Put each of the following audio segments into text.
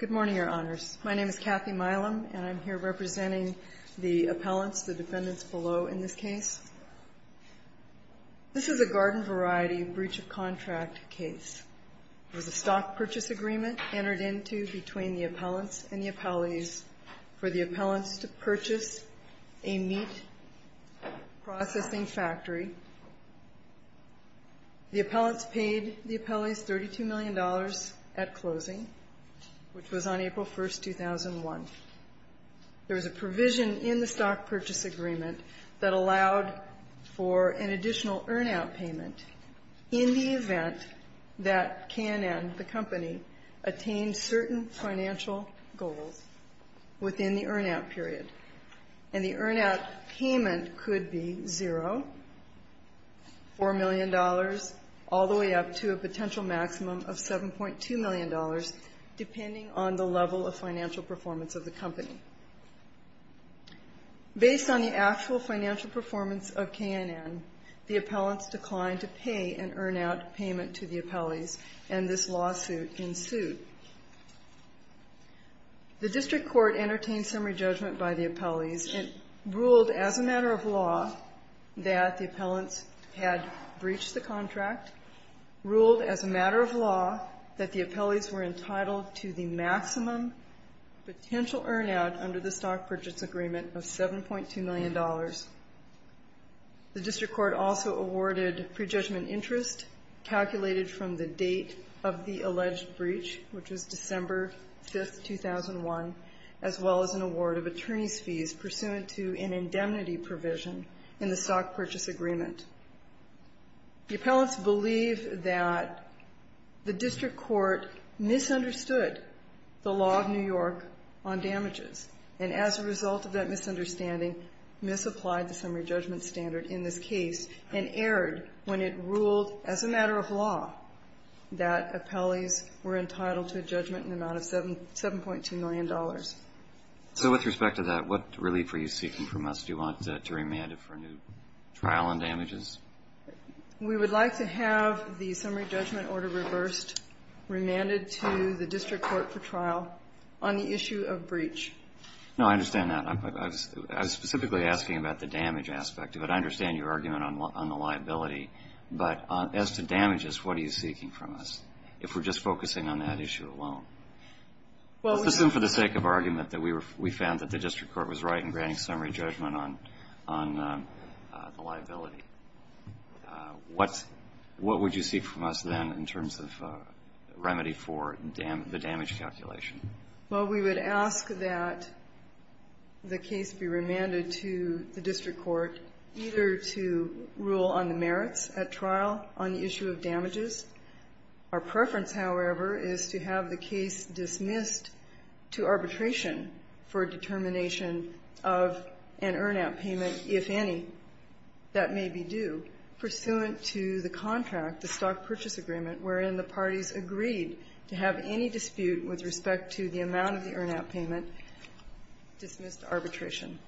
Good morning, Your Honors. My name is Kathy Milam, and I'm here representing the appellants, the defendants below in this case. This is a garden variety breach of contract case. It was a stock purchase agreement entered into between the appellants and the appellees for the appellants to purchase a meat processing factory. The appellants paid the appellees $32 million at closing, which was on April 1, 2001. There was a provision in the stock purchase agreement that allowed for an additional earn-out payment in the event that K&N, the $4 million, all the way up to a potential maximum of $7.2 million, depending on the level of financial performance of the company. Based on the actual financial performance of K&N, the appellants declined to pay an earn-out payment to the appellees, and this lawsuit ensued. The district court entertained summary judgment by the appellees and ruled as a matter of law that the appellants had breached the contract, ruled as a matter of law that the appellees were entitled to the maximum potential earn-out under the stock purchase agreement of $7.2 million. The district court also awarded prejudgment interest calculated from the date of the alleged breach, which was December 5, 2001, as well as an award of attorney's fees pursuant to an indemnity provision in the stock purchase agreement. The appellants believe that the district court misunderstood the law of New York on damages, and as a result of that misunderstanding, misapplied the summary judgment standard in this case and erred when it ruled as a matter of law that appellees were entitled to a judgment in the amount of $7.2 million. So with respect to that, what relief are you seeking from us? Do you want to remand it for a new trial on damages? We would like to have the summary judgment order reversed, remanded to the district court for trial on the issue of breach. No, I understand that. I was specifically asking about the damage aspect of it. I understand your argument on the liability, but as to damages, what are you seeking from us, if we're just focusing on that issue alone? Let's assume for the sake of argument that we found that the district court was right in granting summary judgment on the liability. What would you seek from us then in terms of remedy for the damage calculation? Well, we would ask that the case be remanded to the district court either to rule on the merits at trial on the issue of damages. Our preference, however, is to have the case dismissed to arbitration for determination of an earn-out payment, if any, that may be due pursuant to the contract, the stock purchase agreement, wherein the parties agreed to have any dispute with respect to the amount of the earn-out payment dismissed to arbitration.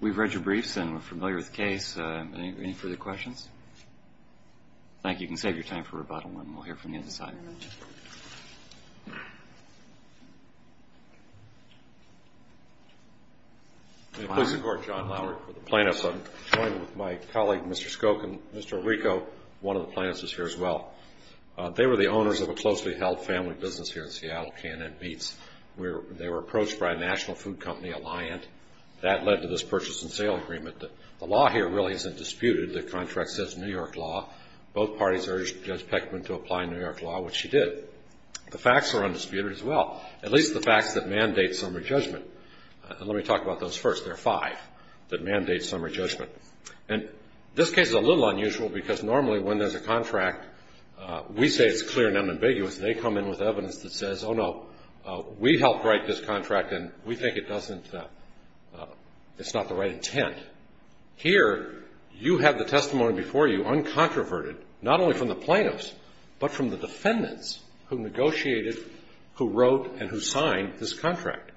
We've read your briefs, and we're familiar with the case. Any further questions? Thank you. You can save your time for rebuttal, and we'll hear from the other side. Please support John Lowry for the plaintiffs. I'm joined with my colleague, Mr. Skokin. Mr. Rico, one of the plaintiffs, is here as well. They were the owners of a closely held family business here in Seattle, K&N Beats. They were approached by a national food company, Alliant. That led to this purchase and sale agreement. The law here really isn't disputed. The contract says New York law. Both parties urged Judge Peckman to apply New York law, which she did. The facts are undisputed as well, at least the facts that mandate summary judgment. Let me talk about those first. There are five that mandate summary judgment. This case is a little unusual because normally when there's a contract, we say it's clear and unambiguous. They come in with evidence that says, oh, no, we helped write this contract, and we think it's not the right intent. Here, you have the testimony before you, uncontroverted, not only from the plaintiffs, but from the defendants who negotiated, who wrote, and who signed this contract.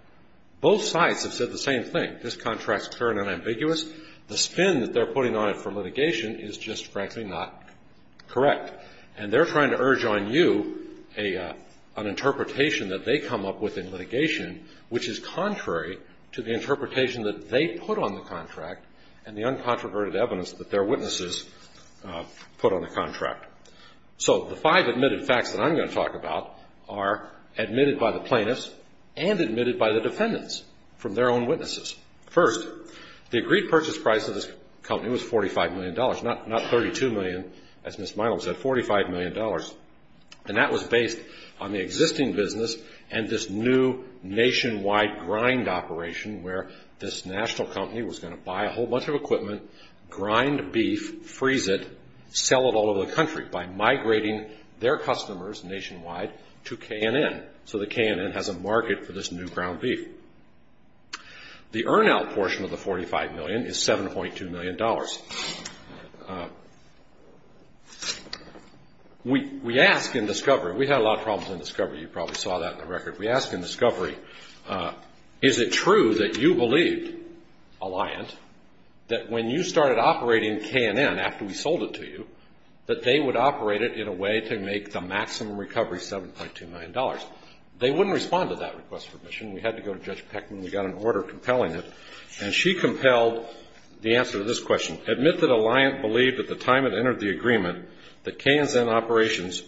Both sides have said the same thing. This contract's clear and unambiguous. The spin that they're putting on it for litigation is just, frankly, not correct. And they're trying to urge on you an interpretation that they come up with in litigation, which is contrary to the interpretation that they put on the contract and the uncontroverted evidence that their witnesses put on the contract. So the five admitted facts that I'm going to talk about are admitted by the plaintiffs and admitted by the defendants from their own witnesses. First, the agreed purchase price of this company was $45 million, not $32 million, as Ms. Milam said, $45 million. And that was based on the existing business and this new nationwide grind operation where this national company was going to buy a whole bunch of equipment, grind beef, freeze it, sell it all over the country by migrating their customers nationwide to K&N, so that K&N has a market for this new ground beef. The earn-out portion of the $45 million is $7.2 million. We ask in discovery, we had a lot of problems in discovery. You probably saw that in the record. We ask in discovery, is it true that you believed, Alliant, that when you started operating K&N after we sold it to you, that they would operate it in a way to make the maximum recovery $7.2 million? They wouldn't respond to that request for admission. We had to go to Judge Peckman. We got an order compelling it. And she compelled the answer to this question. Admit that Alliant believed at the time it entered the agreement that K&N's operations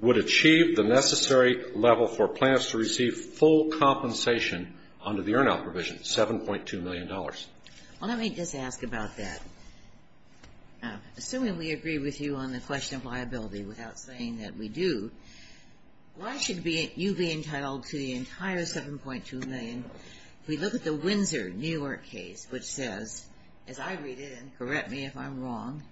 would achieve the necessary level for plaintiffs to receive full compensation under the earn-out provision, $7.2 million. Well, let me just ask about that. Assuming we agree with you on the question of liability without saying that we do, why should you be entitled to the entire $7.2 million? If we look at the Windsor, New York case, which says, as I read it, and correct me if I'm wrong,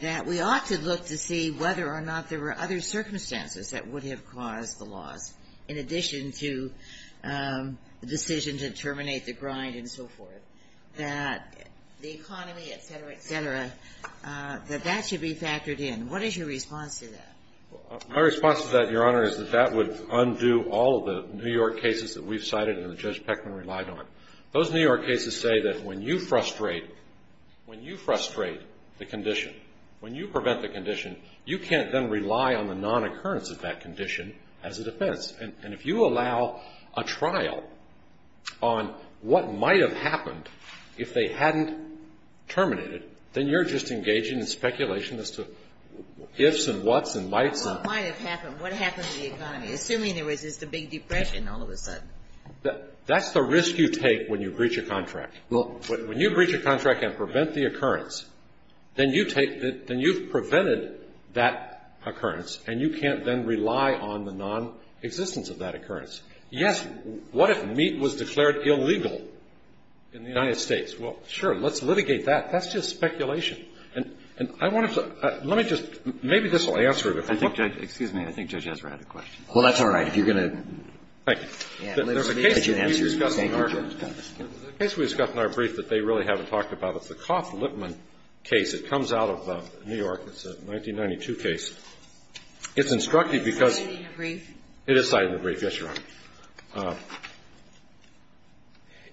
that we ought to look to see whether or not there were other circumstances that would have caused the loss, in addition to the decision to terminate the grind and so forth, that the economy, et cetera, et cetera, that that should be factored in. What is your response to that? My response to that, Your Honor, is that that would undo all of the New York cases that we've cited and that Judge Peckman relied on. Those New York cases say that when you frustrate the condition, when you prevent the condition, you can't then rely on the non-occurrence of that condition as a defense. And if you allow a trial on what might have happened if they hadn't terminated, then you're just engaging in speculation as to ifs and what's and mights. What might have happened? What happened to the economy, assuming there was just a big depression all of a sudden? That's the risk you take when you breach a contract. When you breach a contract and prevent the occurrence, then you've prevented that occurrence, and you can't then rely on the non-existence of that occurrence. Yes, what if meat was declared illegal in the United States? Well, sure, let's litigate that. That's just speculation. And I wanted to – let me just – maybe this will answer it. I think Judge – excuse me. I think Judge Ezra had a question. Well, that's all right. If you're going to – Thank you. There's a case that we discussed in our brief that they really haven't talked about. It's the Koff-Lippmann case. It comes out of New York. It's a 1992 case. It's instructed because – It's cited in the brief. It is cited in the brief. Yes, Your Honor.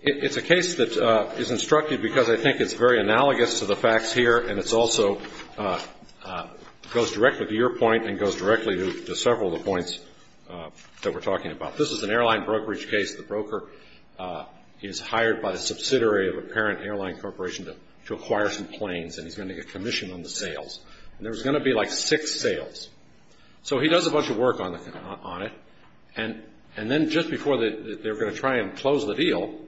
It's a case that is instructed because I think it's very analogous to the facts here, and it also goes directly to your point and goes directly to several of the points that we're talking about. This is an airline brokerage case. The broker is hired by the subsidiary of a parent airline corporation to acquire some planes, and he's going to get commission on the sales. And there's going to be like six sales. So he does a bunch of work on it, and then just before they're going to try and close the deal,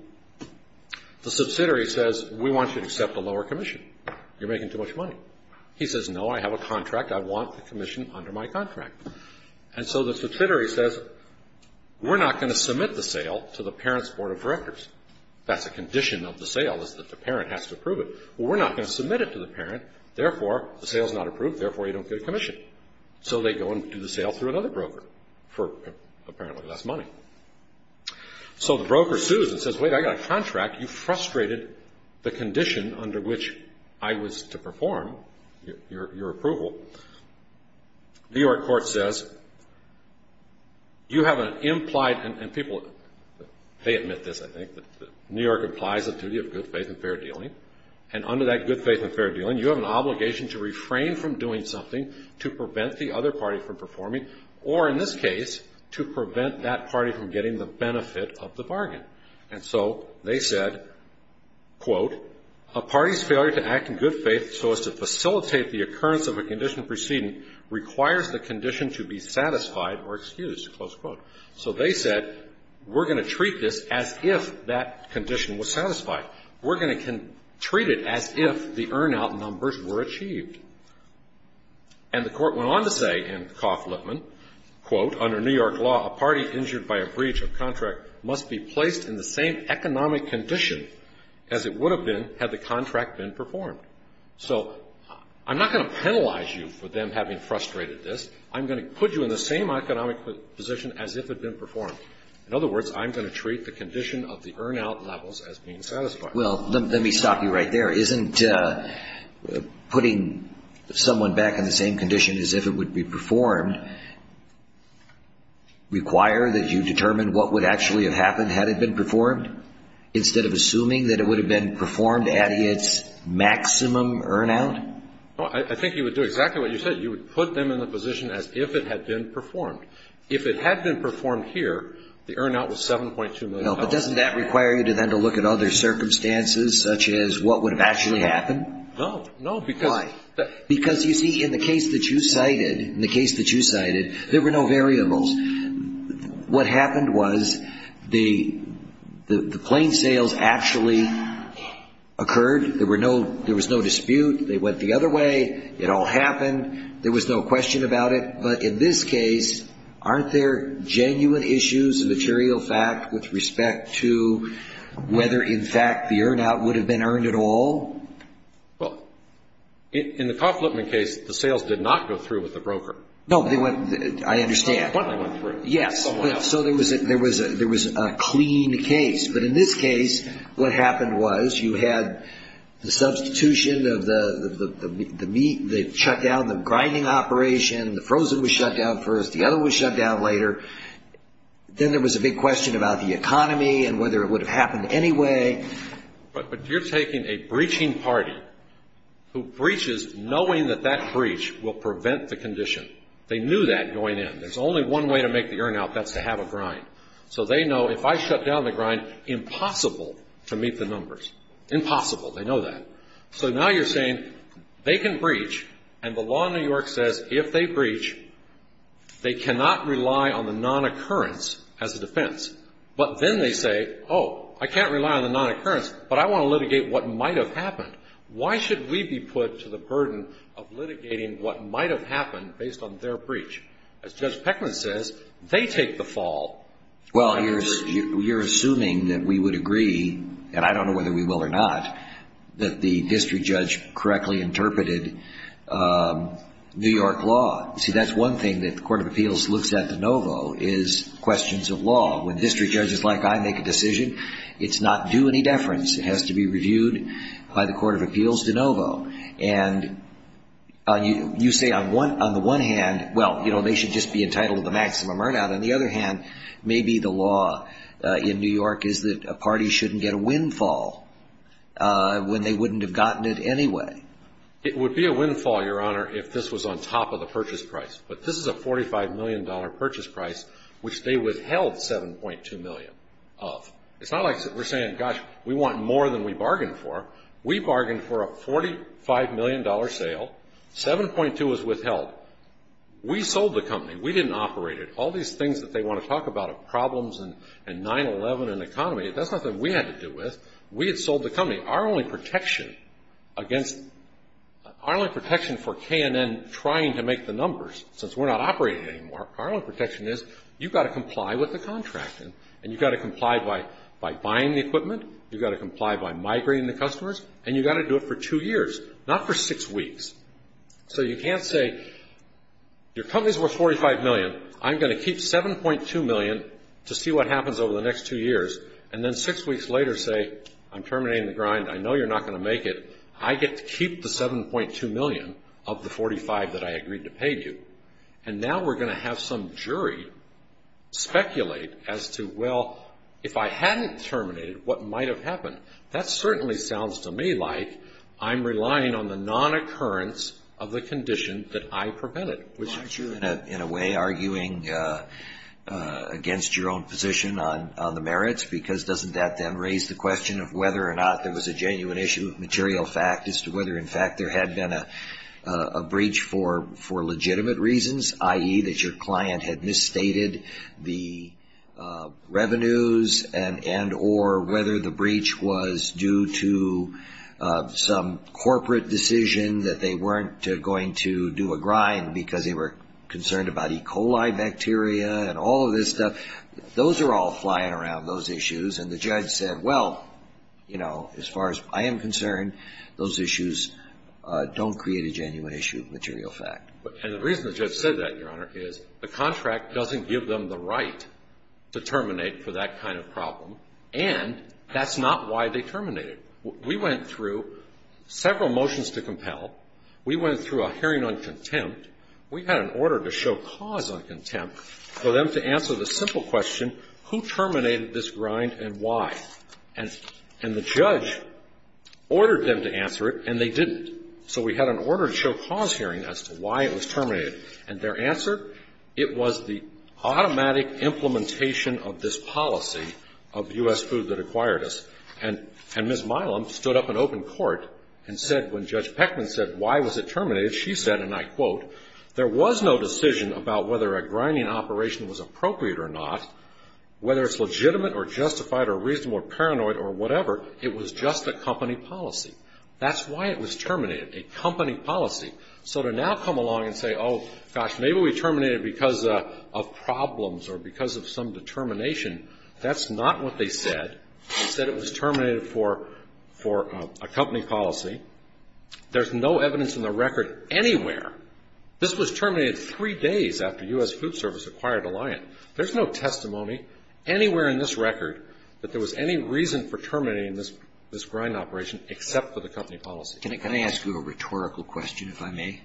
the subsidiary says, we want you to accept a lower commission. You're making too much money. He says, no, I have a contract. I want the commission under my contract. And so the subsidiary says, we're not going to submit the sale to the parent's board of directors. That's a condition of the sale is that the parent has to approve it. Well, we're not going to submit it to the parent. Therefore, the sale is not approved. Therefore, you don't get a commission. So they go and do the sale through another broker for apparently less money. So the broker sues and says, wait, I got a contract. You frustrated the condition under which I was to perform your approval. New York court says, you have an implied, and people, they admit this, I think, that New York implies the duty of good faith and fair dealing, and under that good faith and fair dealing, you have an obligation to refrain from doing something to prevent the other party from performing or, in this case, to prevent that party from getting the benefit of the bargain. And so they said, quote, a party's failure to act in good faith so as to facilitate the occurrence of a condition preceding requires the condition to be satisfied or excused, close quote. So they said, we're going to treat this as if that condition was satisfied. We're going to treat it as if the earn-out numbers were achieved. And the court went on to say in Coff-Lippman, quote, under New York law, a party injured by a breach of contract must be placed in the same economic condition as it would have been had the contract been performed. So I'm not going to penalize you for them having frustrated this. I'm going to put you in the same economic position as if it had been performed. In other words, I'm going to treat the condition of the earn-out levels as being satisfied. Well, let me stop you right there. Isn't putting someone back in the same condition as if it would be performed require that you determine what would actually have happened had it been performed instead of assuming that it would have been performed at its maximum earn-out? I think you would do exactly what you said. You would put them in the position as if it had been performed. If it had been performed here, the earn-out was $7.2 million. But doesn't that require you then to look at other circumstances, such as what would have actually happened? No. Why? Because, you see, in the case that you cited, there were no variables. What happened was the plane sales actually occurred. There was no dispute. They went the other way. It all happened. There was no question about it. But in this case, aren't there genuine issues, a material fact, with respect to whether, in fact, the earn-out would have been earned at all? Well, in the Kaufman case, the sales did not go through with the broker. No, I understand. Yes. So there was a clean case. But in this case, what happened was you had the substitution of the meat, they shut down the grinding operation, the frozen was shut down first, the other was shut down later. Then there was a big question about the economy and whether it would have happened anyway. But you're taking a breaching party who breaches knowing that that breach will prevent the condition. They knew that going in. There's only one way to make the earn-out, and that's to have a grind. So they know if I shut down the grind, impossible to meet the numbers. Impossible. They know that. So now you're saying they can breach, and the law in New York says if they breach, they cannot rely on the non-occurrence as a defense. But then they say, oh, I can't rely on the non-occurrence, but I want to litigate what might have happened. Why should we be put to the burden of litigating what might have happened based on their breach? As Judge Peckman says, they take the fall. Well, you're assuming that we would agree, and I don't know whether we will or not, that the district judge correctly interpreted New York law. See, that's one thing that the Court of Appeals looks at de novo is questions of law. When district judges like I make a decision, it's not due any deference. It has to be reviewed by the Court of Appeals de novo. And you say on the one hand, well, you know, they should just be entitled to the maximum earn-out. On the other hand, maybe the law in New York is that a party shouldn't get a windfall when they wouldn't have gotten it anyway. It would be a windfall, Your Honor, if this was on top of the purchase price. But this is a $45 million purchase price, which they withheld $7.2 million of. It's not like we're saying, gosh, we want more than we bargained for. We bargained for a $45 million sale. $7.2 was withheld. We sold the company. We didn't operate it. All these things that they want to talk about are problems and 9-11 and economy. That's nothing we had to do with. We had sold the company. Our only protection for K&N trying to make the numbers, since we're not operating anymore, our only protection is you've got to comply with the contract. And you've got to comply by buying the equipment. You've got to comply by migrating the customers. And you've got to do it for two years, not for six weeks. So you can't say, your company's worth $45 million. I'm going to keep $7.2 million to see what happens over the next two years, and then six weeks later say, I'm terminating the grind. I know you're not going to make it. I get to keep the $7.2 million of the $45 that I agreed to pay you. And now we're going to have some jury speculate as to, well, if I hadn't terminated, what might have happened? That certainly sounds to me like I'm relying on the non-occurrence of the condition that I prevented. Well, aren't you in a way arguing against your own position on the merits? Because doesn't that then raise the question of whether or not there was a genuine issue of material fact as to whether, in fact, there had been a breach for legitimate reasons, i.e., that your client had misstated the revenues and or whether the breach was due to some corporate decision that they weren't going to do a grind because they were concerned about E. coli bacteria and all of this stuff. Those are all flying around, those issues. And the judge said, well, you know, as far as I am concerned, those issues don't create a genuine issue of material fact. And the reason the judge said that, Your Honor, is the contract doesn't give them the right to terminate for that kind of problem, and that's not why they terminated. We went through several motions to compel. We went through a hearing on contempt. We had an order to show cause on contempt for them to answer the simple question, who terminated this grind and why? And the judge ordered them to answer it, and they didn't. And their answer, it was the automatic implementation of this policy of U.S. Food that acquired us. And Ms. Milam stood up in open court and said, when Judge Peckman said, why was it terminated, she said, and I quote, there was no decision about whether a grinding operation was appropriate or not, whether it's legitimate or justified or reasonable or paranoid or whatever. It was just a company policy. That's why it was terminated, a company policy. So to now come along and say, oh, gosh, maybe we terminated it because of problems or because of some determination, that's not what they said. They said it was terminated for a company policy. There's no evidence in the record anywhere. This was terminated three days after U.S. Food Service acquired Alliant. There's no testimony anywhere in this record that there was any reason for terminating this grind operation, except for the company policy. Can I ask you a rhetorical question, if I may?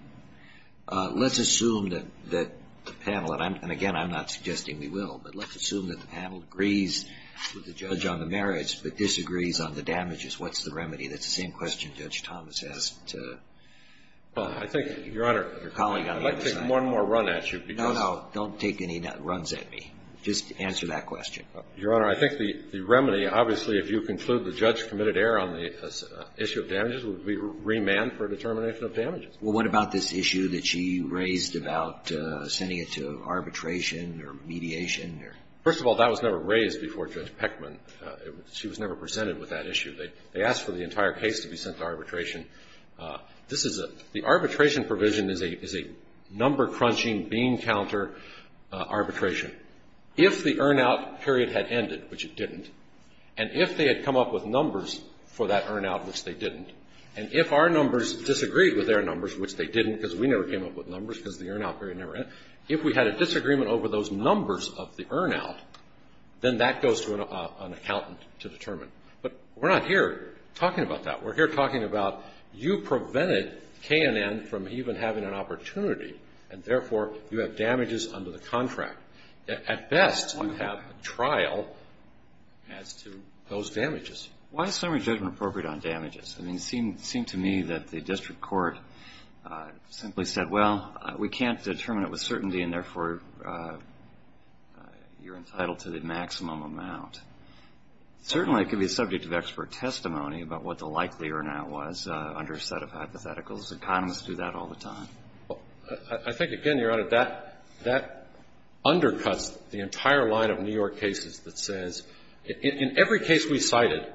Let's assume that the panel, and again, I'm not suggesting we will, but let's assume that the panel agrees with the judge on the merits but disagrees on the damages. What's the remedy? That's the same question Judge Thomas asked. Well, I think, Your Honor, I'd like to take one more run at you. No, no. Don't take any runs at me. Just answer that question. Your Honor, I think the remedy, obviously, if you conclude the judge committed error on the issue of damages, would be remand for determination of damages. Well, what about this issue that she raised about sending it to arbitration or mediation? First of all, that was never raised before Judge Peckman. She was never presented with that issue. They asked for the entire case to be sent to arbitration. This is a the arbitration provision is a number-crunching, bean-counter arbitration. If the earn-out period had ended, which it didn't, and if they had come up with numbers for that earn-out, which they didn't, and if our numbers disagreed with their numbers, which they didn't, because we never came up with numbers because the earn-out period never ended, if we had a disagreement over those numbers of the earn-out, then that goes to an accountant to determine. But we're not here talking about that. We're here talking about you prevented K&N from even having an opportunity, and, therefore, you have damages under the contract. At best, you have a trial as to those damages. Why is summary judgment appropriate on damages? I mean, it seemed to me that the district court simply said, well, we can't determine it with certainty, and, therefore, you're entitled to the maximum amount. Certainly, it could be a subject of expert testimony about what the likelihood of earn-out was under a set of hypotheticals. Economists do that all the time. Well, I think, again, Your Honor, that undercuts the entire line of New York cases that says, in every case we cited,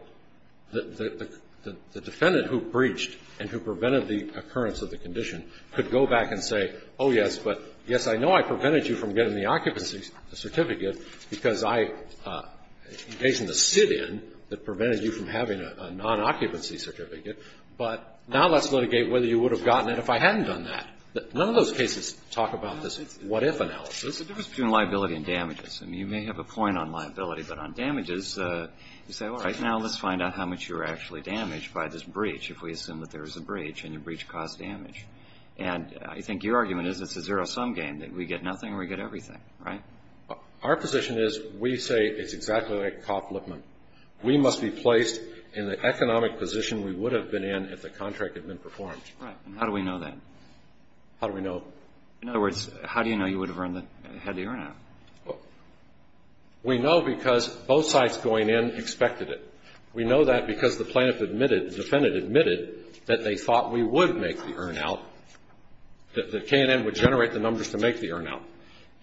the defendant who breached and who prevented the occurrence of the condition could go back and say, oh, yes, but, yes, I know I prevented you from getting the occupancy certificate because I engaged in the sit-in that prevented you from having a nonoccupancy certificate, but now let's litigate whether you would have gotten it if I hadn't done that. None of those cases talk about this what-if analysis. The difference between liability and damages. I mean, you may have a point on liability, but on damages, you say, all right, now let's find out how much you were actually damaged by this breach, if we assume that there was a breach and the breach caused damage. And I think your argument is it's a zero-sum game, that we get nothing or we get everything, right? Our position is we say it's exactly like Kaufman. We must be placed in the economic position we would have been in if the contract had been performed. Right. And how do we know that? How do we know? In other words, how do you know you would have had the earn-out? We know because both sides going in expected it. We know that because the plaintiff admitted, the defendant admitted, that they thought we would make the earn-out, that K&N would generate the numbers to make the earn-out.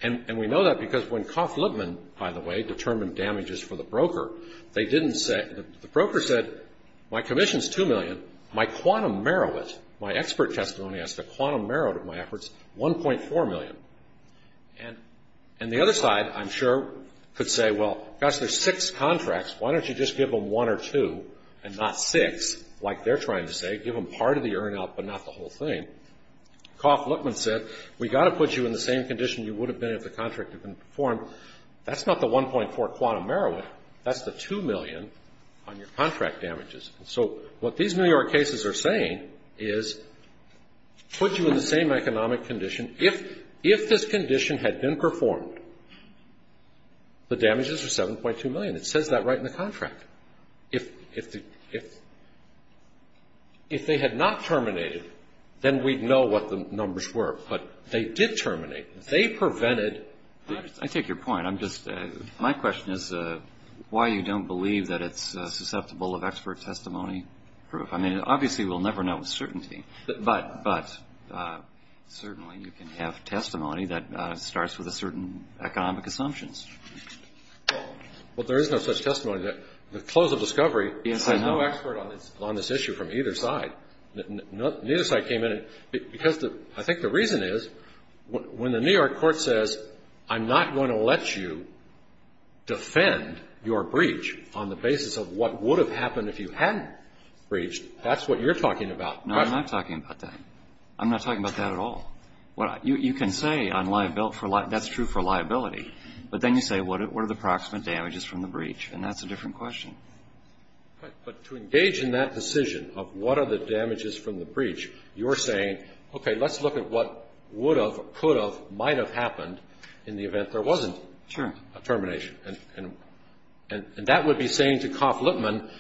And we know that because when Kaufman, by the way, determined damages for the broker, they didn't say, the broker said, my commission is $2 million. My quantum merit, my expert testimony as to quantum merit of my efforts, $1.4 million. And the other side, I'm sure, could say, well, gosh, there's six contracts. Why don't you just give them one or two and not six, like they're trying to say, give them part of the earn-out but not the whole thing. Kaufman said, we've got to put you in the same condition you would have been if the contract had been performed. That's not the $1.4 quantum merit. That's the $2 million on your contract damages. And so what these New York cases are saying is put you in the same economic condition. If this condition had been performed, the damages are $7.2 million. It says that right in the contract. If they had not terminated, then we'd know what the numbers were. But they did terminate. I take your point. My question is why you don't believe that it's susceptible of expert testimony? I mean, obviously we'll never know with certainty, but certainly you can have testimony that starts with a certain economic assumptions. Well, there is no such testimony. The close of discovery, there's no expert on this issue from either side. Neither side came in. I think the reason is when the New York court says, I'm not going to let you defend your breach on the basis of what would have happened if you hadn't breached, that's what you're talking about. No, I'm not talking about that. I'm not talking about that at all. You can say that's true for liability, but then you say what are the approximate damages from the breach, and that's a different question. But to engage in that decision of what are the damages from the breach, you're saying, okay, let's look at what would have, could have, might have happened in the event there wasn't a termination. And that would be saying to Koff-Lippmann,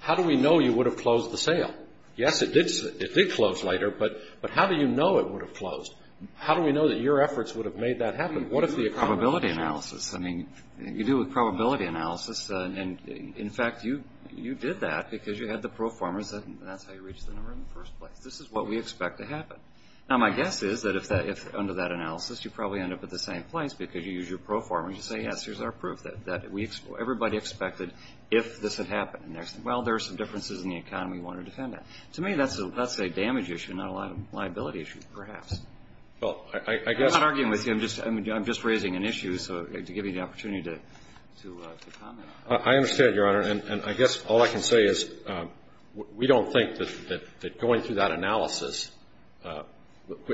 how do we know you would have closed the sale? Yes, it did close later, but how do you know it would have closed? How do we know that your efforts would have made that happen? Probability analysis. I mean, you do a probability analysis, and, in fact, you did that because you had the proformers, and that's how you reached the number in the first place. This is what we expect to happen. Now, my guess is that under that analysis, you probably end up at the same place because you use your proformers to say, yes, here's our proof that everybody expected if this had happened. Well, there are some differences in the economy we want to defend that. To me, that's a damage issue, not a liability issue, perhaps. I'm not arguing with you. I'm just raising an issue to give you the opportunity to comment on. I understand, Your Honor, and I guess all I can say is we don't think that going through that analysis,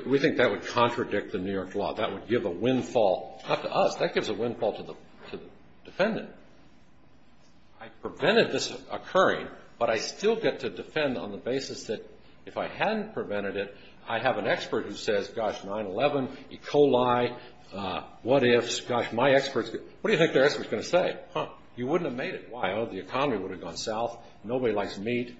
we think that would contradict the New York law. That would give a windfall not to us. That gives a windfall to the defendant. I prevented this occurring, but I still get to defend on the basis that if I hadn't prevented it, I have an expert who says, gosh, 9-11, E. coli, what ifs, gosh, my experts, what do you think their expert is going to say? Huh, you wouldn't have made it. Why? Oh, the economy would have gone south. Nobody likes meat,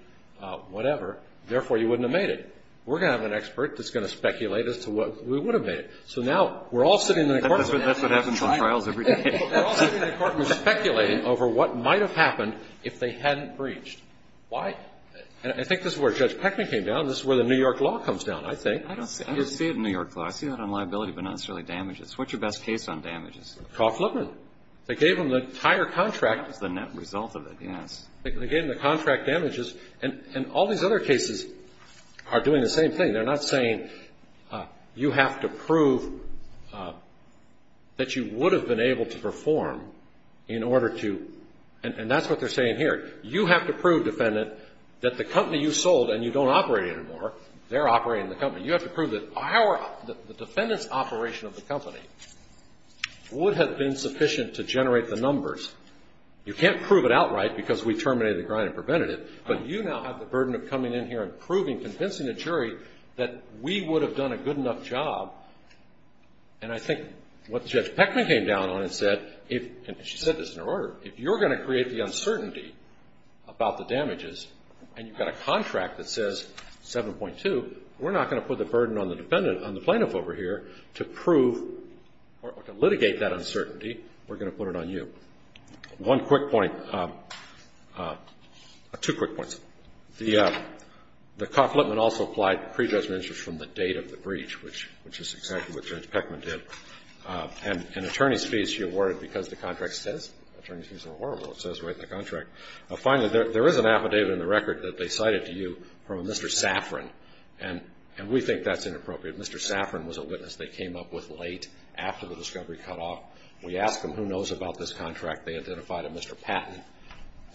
whatever. Therefore, you wouldn't have made it. We're going to have an expert that's going to speculate as to what we would have made it. So now we're all sitting in an apartment. That's what happens in trials every day. We're all sitting in an apartment speculating over what might have happened if they hadn't breached. Why? I think this is where Judge Peckman came down. This is where the New York law comes down, I think. I don't see it in New York law. I see that on liability, but not necessarily damages. What's your best case on damages? Kaufman. They gave them the entire contract. That's the net result of it, yes. They gave them the contract damages, and all these other cases are doing the same thing. They're not saying you have to prove that you would have been able to perform in order to, and that's what they're saying here. You have to prove, defendant, that the company you sold and you don't operate anymore, they're operating the company. You have to prove that the defendant's operation of the company would have been sufficient to generate the numbers. You can't prove it outright because we terminated the grind and prevented it, but you now have the burden of coming in here and proving, convincing the jury, that we would have done a good enough job, and I think what Judge Peckman came down on and said, and she said this in her order, if you're going to create the uncertainty about the damages and you've got a contract that says 7.2, we're not going to put the burden on the defendant, on the plaintiff over here, to prove or to litigate that uncertainty. We're going to put it on you. One quick point, two quick points. The conflictment also applied predestined interest from the date of the breach, which is exactly what Judge Peckman did, and attorney's fees she awarded because the contract says, Finally, there is an affidavit in the record that they cited to you from a Mr. Saffron, and we think that's inappropriate. Mr. Saffron was a witness they came up with late after the discovery cutoff. We asked them who knows about this contract. They identified a Mr. Patton.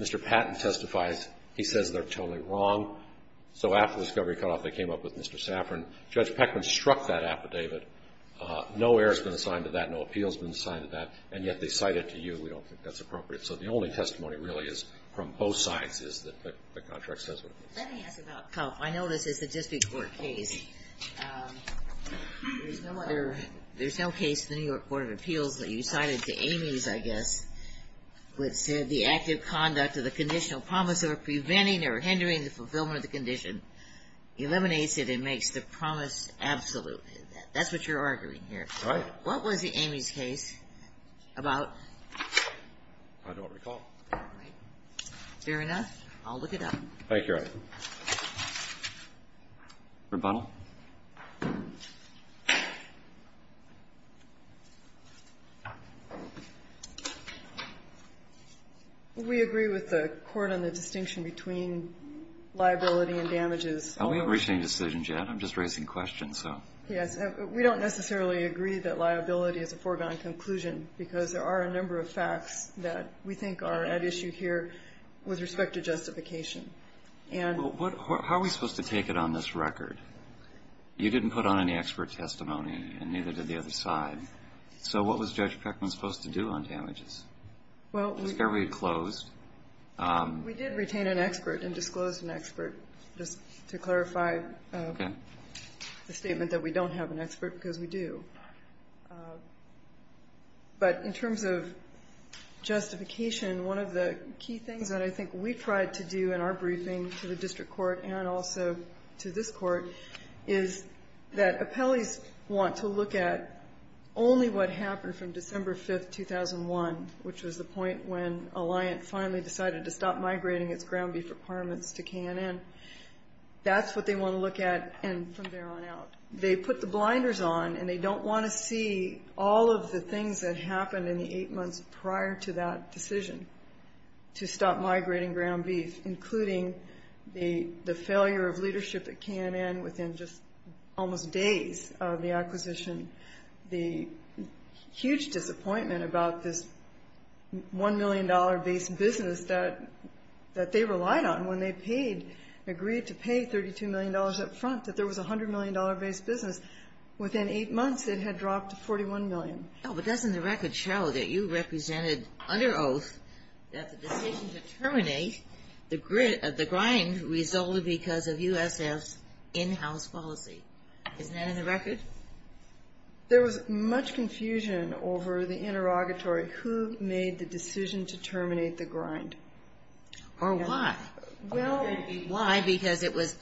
Mr. Patton testifies. He says they're totally wrong, so after the discovery cutoff, they came up with Mr. Saffron. Judge Peckman struck that affidavit. No error has been assigned to that. No appeal has been assigned to that, and yet they cite it to you. We don't think that's appropriate. So the only testimony really is from both sides is that the contract says what it is. Let me ask about Cuff. I know this is a district court case. There's no case in the New York Court of Appeals that you cited to Amy's, I guess, which said the active conduct of the conditional promise of preventing or hindering the fulfillment of the condition eliminates it and makes the promise absolute. That's what you're arguing here. Right. What was Amy's case about? I don't recall. Fair enough. I'll look it up. Thank you. Rebuttal. We agree with the court on the distinction between liability and damages. We haven't reached any decisions yet. I'm just raising questions, so. Yes. We don't necessarily agree that liability is a foregone conclusion, because there are a number of facts that we think are at issue here with respect to justification. How are we supposed to take it on this record? You didn't put on any expert testimony, and neither did the other side. So what was Judge Peckman supposed to do on damages? The discovery had closed. We did retain an expert and disclosed an expert, just to clarify the statement that we don't have an expert because we do. But in terms of justification, one of the key things that I think we tried to do in our briefing to the district court and also to this court is that appellees want to look at only what happened from December 5th, 2001, which was the point when Alliant finally decided to stop migrating its ground beef requirements to K&N. That's what they want to look at from there on out. They put the blinders on, and they don't want to see all of the things that happened in the eight months prior to that decision to stop migrating ground beef, including the failure of leadership at K&N within just almost days of the acquisition, the huge disappointment about this $1 million-based business that they relied on when they agreed to pay $32 million up front, that there was a $100 million-based business. Within eight months, it had dropped to $41 million. But doesn't the record show that you represented under oath that the decision to terminate the grind resulted because of USF's in-house policy? Isn't that in the record? There was much confusion over the interrogatory. Who made the decision to terminate the grind? Or why? Why? Because it was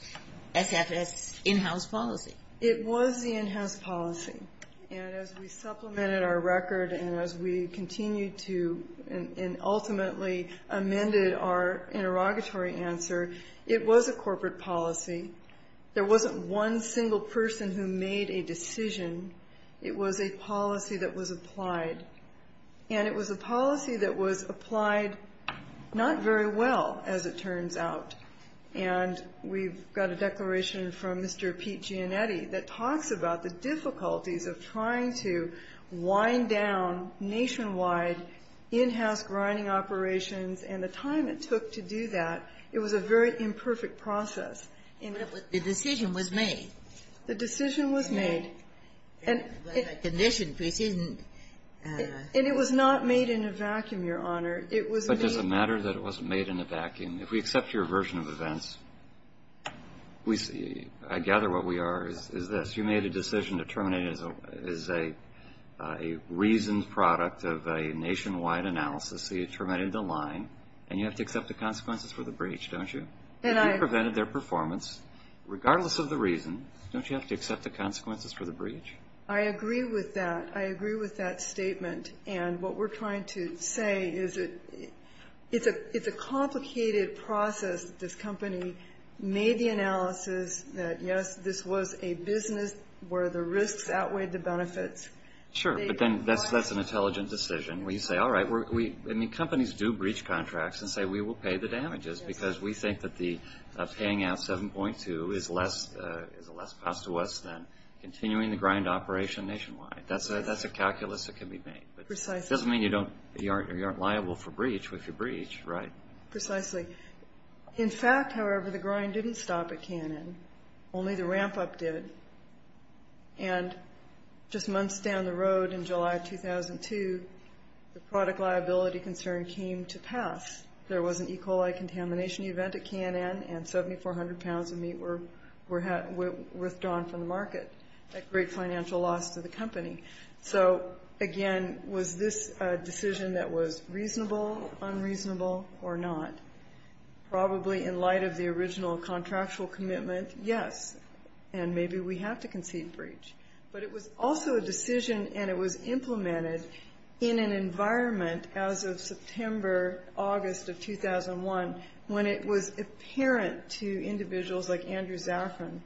SFS's in-house policy. It was the in-house policy. And as we supplemented our record and as we continued to and ultimately amended our interrogatory answer, it was a corporate policy. There wasn't one single person who made a decision. It was a policy that was applied. And it was a policy that was applied not very well, as it turns out. And we've got a declaration from Mr. Pete Gianetti that talks about the difficulties of trying to wind down nationwide in-house grinding operations and the time it took to do that. It was a very imperfect process. The decision was made. The decision was made. And it was not made in a vacuum, Your Honor. But does it matter that it wasn't made in a vacuum? If we accept your version of events, I gather what we are is this. You made a decision to terminate it as a reasoned product of a nationwide analysis. So you terminated the line. And you have to accept the consequences for the breach, don't you? You prevented their performance. Regardless of the reason, don't you have to accept the consequences for the breach? I agree with that. I agree with that statement. And what we're trying to say is it's a complicated process. This company made the analysis that, yes, this was a business where the risks outweighed the benefits. Sure. But then that's an intelligent decision. And we say, all right, companies do breach contracts and say we will pay the damages because we think that paying out 7.2 is a less cost to us than continuing the grind operation nationwide. That's a calculus that can be made. But it doesn't mean you aren't liable for breach if you breach, right? Precisely. In fact, however, the grind didn't stop at Cannon. Only the ramp-up did. And just months down the road in July of 2002, the product liability concern came to pass. There was an E. coli contamination event at Cannon, and 7,400 pounds of meat were withdrawn from the market, a great financial loss to the company. So, again, was this a decision that was reasonable, unreasonable, or not? Probably in light of the original contractual commitment, yes. And maybe we have to concede breach. But it was also a decision, and it was implemented in an environment as of September, August of 2001, when it was apparent to individuals like Andrew Zafran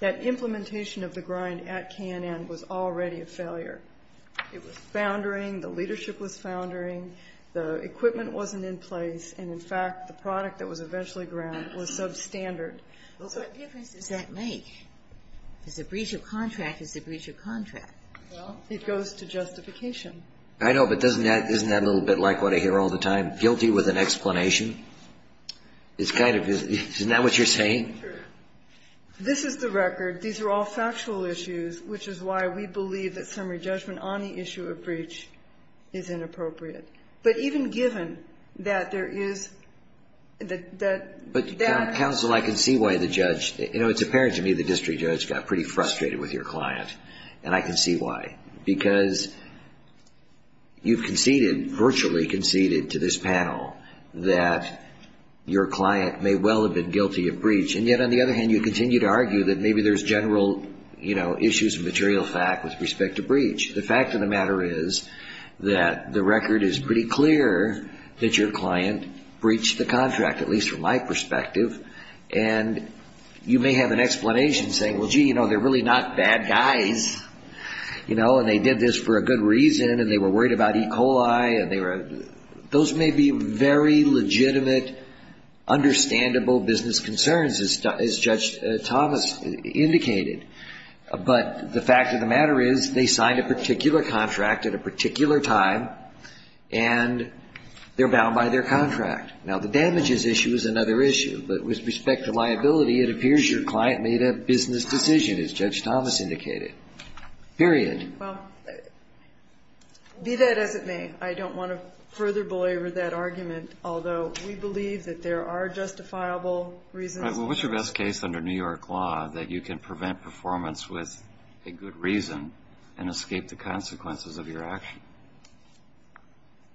that implementation of the grind at Cannon was already a failure. It was foundering. The leadership was foundering. The equipment wasn't in place. And, in fact, the product that was eventually ground was substandard. What difference does that make? Because a breach of contract is a breach of contract. It goes to justification. I know. But doesn't that ñ isn't that a little bit like what I hear all the time, guilty with an explanation? It's kind of ñ isn't that what you're saying? This is the record. These are all factual issues, which is why we believe that summary judgment on the issue of breach is inappropriate. But even given that there is ñ that that ñ But, counsel, I can see why the judge ñ you know, it's apparent to me the district judge got pretty frustrated with your client. And I can see why. Because you've conceded, virtually conceded to this panel, that your client may well have been guilty of breach. And yet, on the other hand, you continue to argue that maybe there's general, you know, issues of material fact with respect to breach. The fact of the matter is that the record is pretty clear that your client breached the contract, at least from my perspective. And you may have an explanation saying, well, gee, you know, they're really not bad guys, you know, and they did this for a good reason and they were worried about E. coli and they were ñ those may be very legitimate, understandable business concerns, as Judge Thomas indicated. But the fact of the matter is they signed a particular contract at a particular time and they're bound by their contract. Now, the damages issue is another issue. But with respect to liability, it appears your client made a business decision, as Judge Thomas indicated. Period. Well, be that as it may, I don't want to further belabor that argument, although we believe that there are justifiable reasons. Well, what's your best case under New York law that you can prevent performance with a good reason and escape the consequences of your action?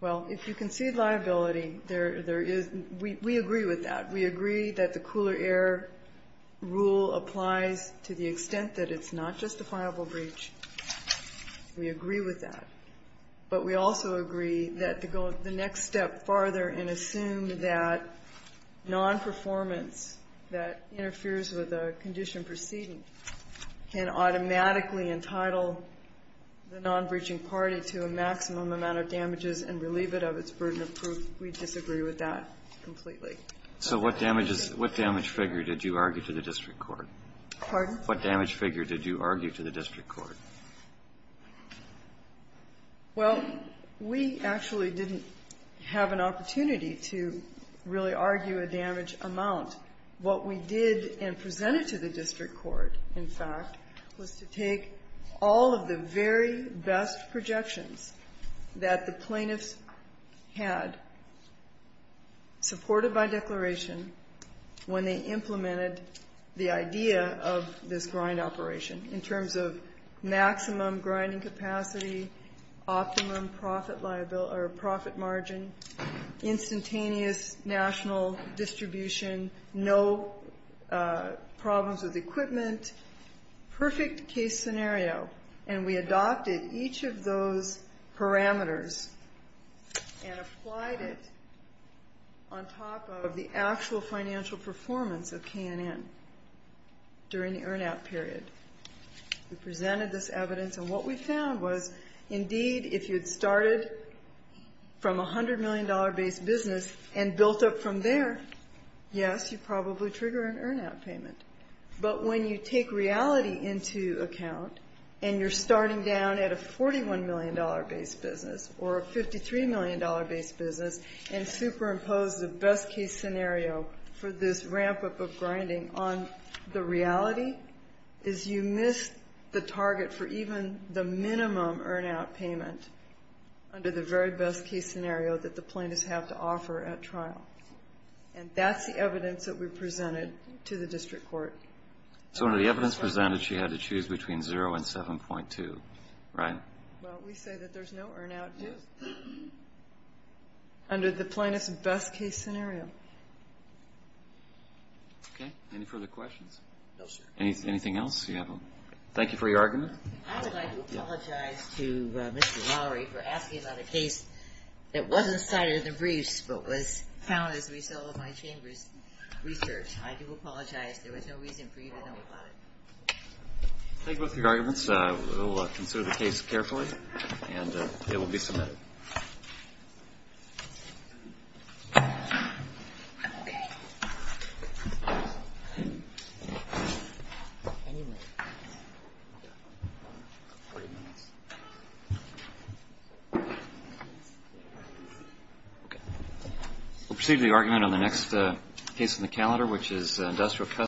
Well, if you concede liability, there is ñ we agree with that. We agree that the cooler air rule applies to the extent that it's not justifiable breach. We agree with that. But we also agree that to go the next step farther and assume that nonperformance that interferes with a condition proceeding can automatically entitle the nonbreaching party to a maximum amount of damages and relieve it of its burden of proof, we disagree with that completely. So what damages ñ what damage figure did you argue to the district court? Pardon? What damage figure did you argue to the district court? Well, we actually didn't have an opportunity to really argue a damage amount. What we did and presented to the district court, in fact, was to take all of the very best projections that the plaintiffs had supported by declaration when they implemented the idea of this grind operation in terms of maximum grinding capacity, optimum profit margin, instantaneous national distribution, no problems with equipment, perfect case scenario. And we adopted each of those parameters and applied it on top of the actual financial performance of K&N during the earn-out period. We presented this evidence, and what we found was, indeed, if you'd started from a $100 million-based business and built up from there, yes, you'd probably trigger an earn-out payment. But when you take reality into account and you're starting down at a $41 million-based business or a $53 million-based business and superimpose the best-case scenario for this ramp-up of grinding on the reality, is you miss the target for even the minimum earn-out payment under the very best-case scenario that the plaintiffs have to offer at trial. And that's the evidence that we presented to the district court. So under the evidence presented, she had to choose between 0 and 7.2, right? Well, we say that there's no earn-out under the plaintiffs' best-case scenario. Okay. Any further questions? No, sir. Anything else you have? Thank you for your argument. I would like to apologize to Mr. Lowry for asking about a case that wasn't cited in the briefs but was found as a result of my chamber's research. I do apologize. There was no reason for you to know about it. Thank you both for your arguments. We will consider the case carefully, and it will be submitted. We'll proceed to the argument on the next case on the calendar, which is Industrial Customs.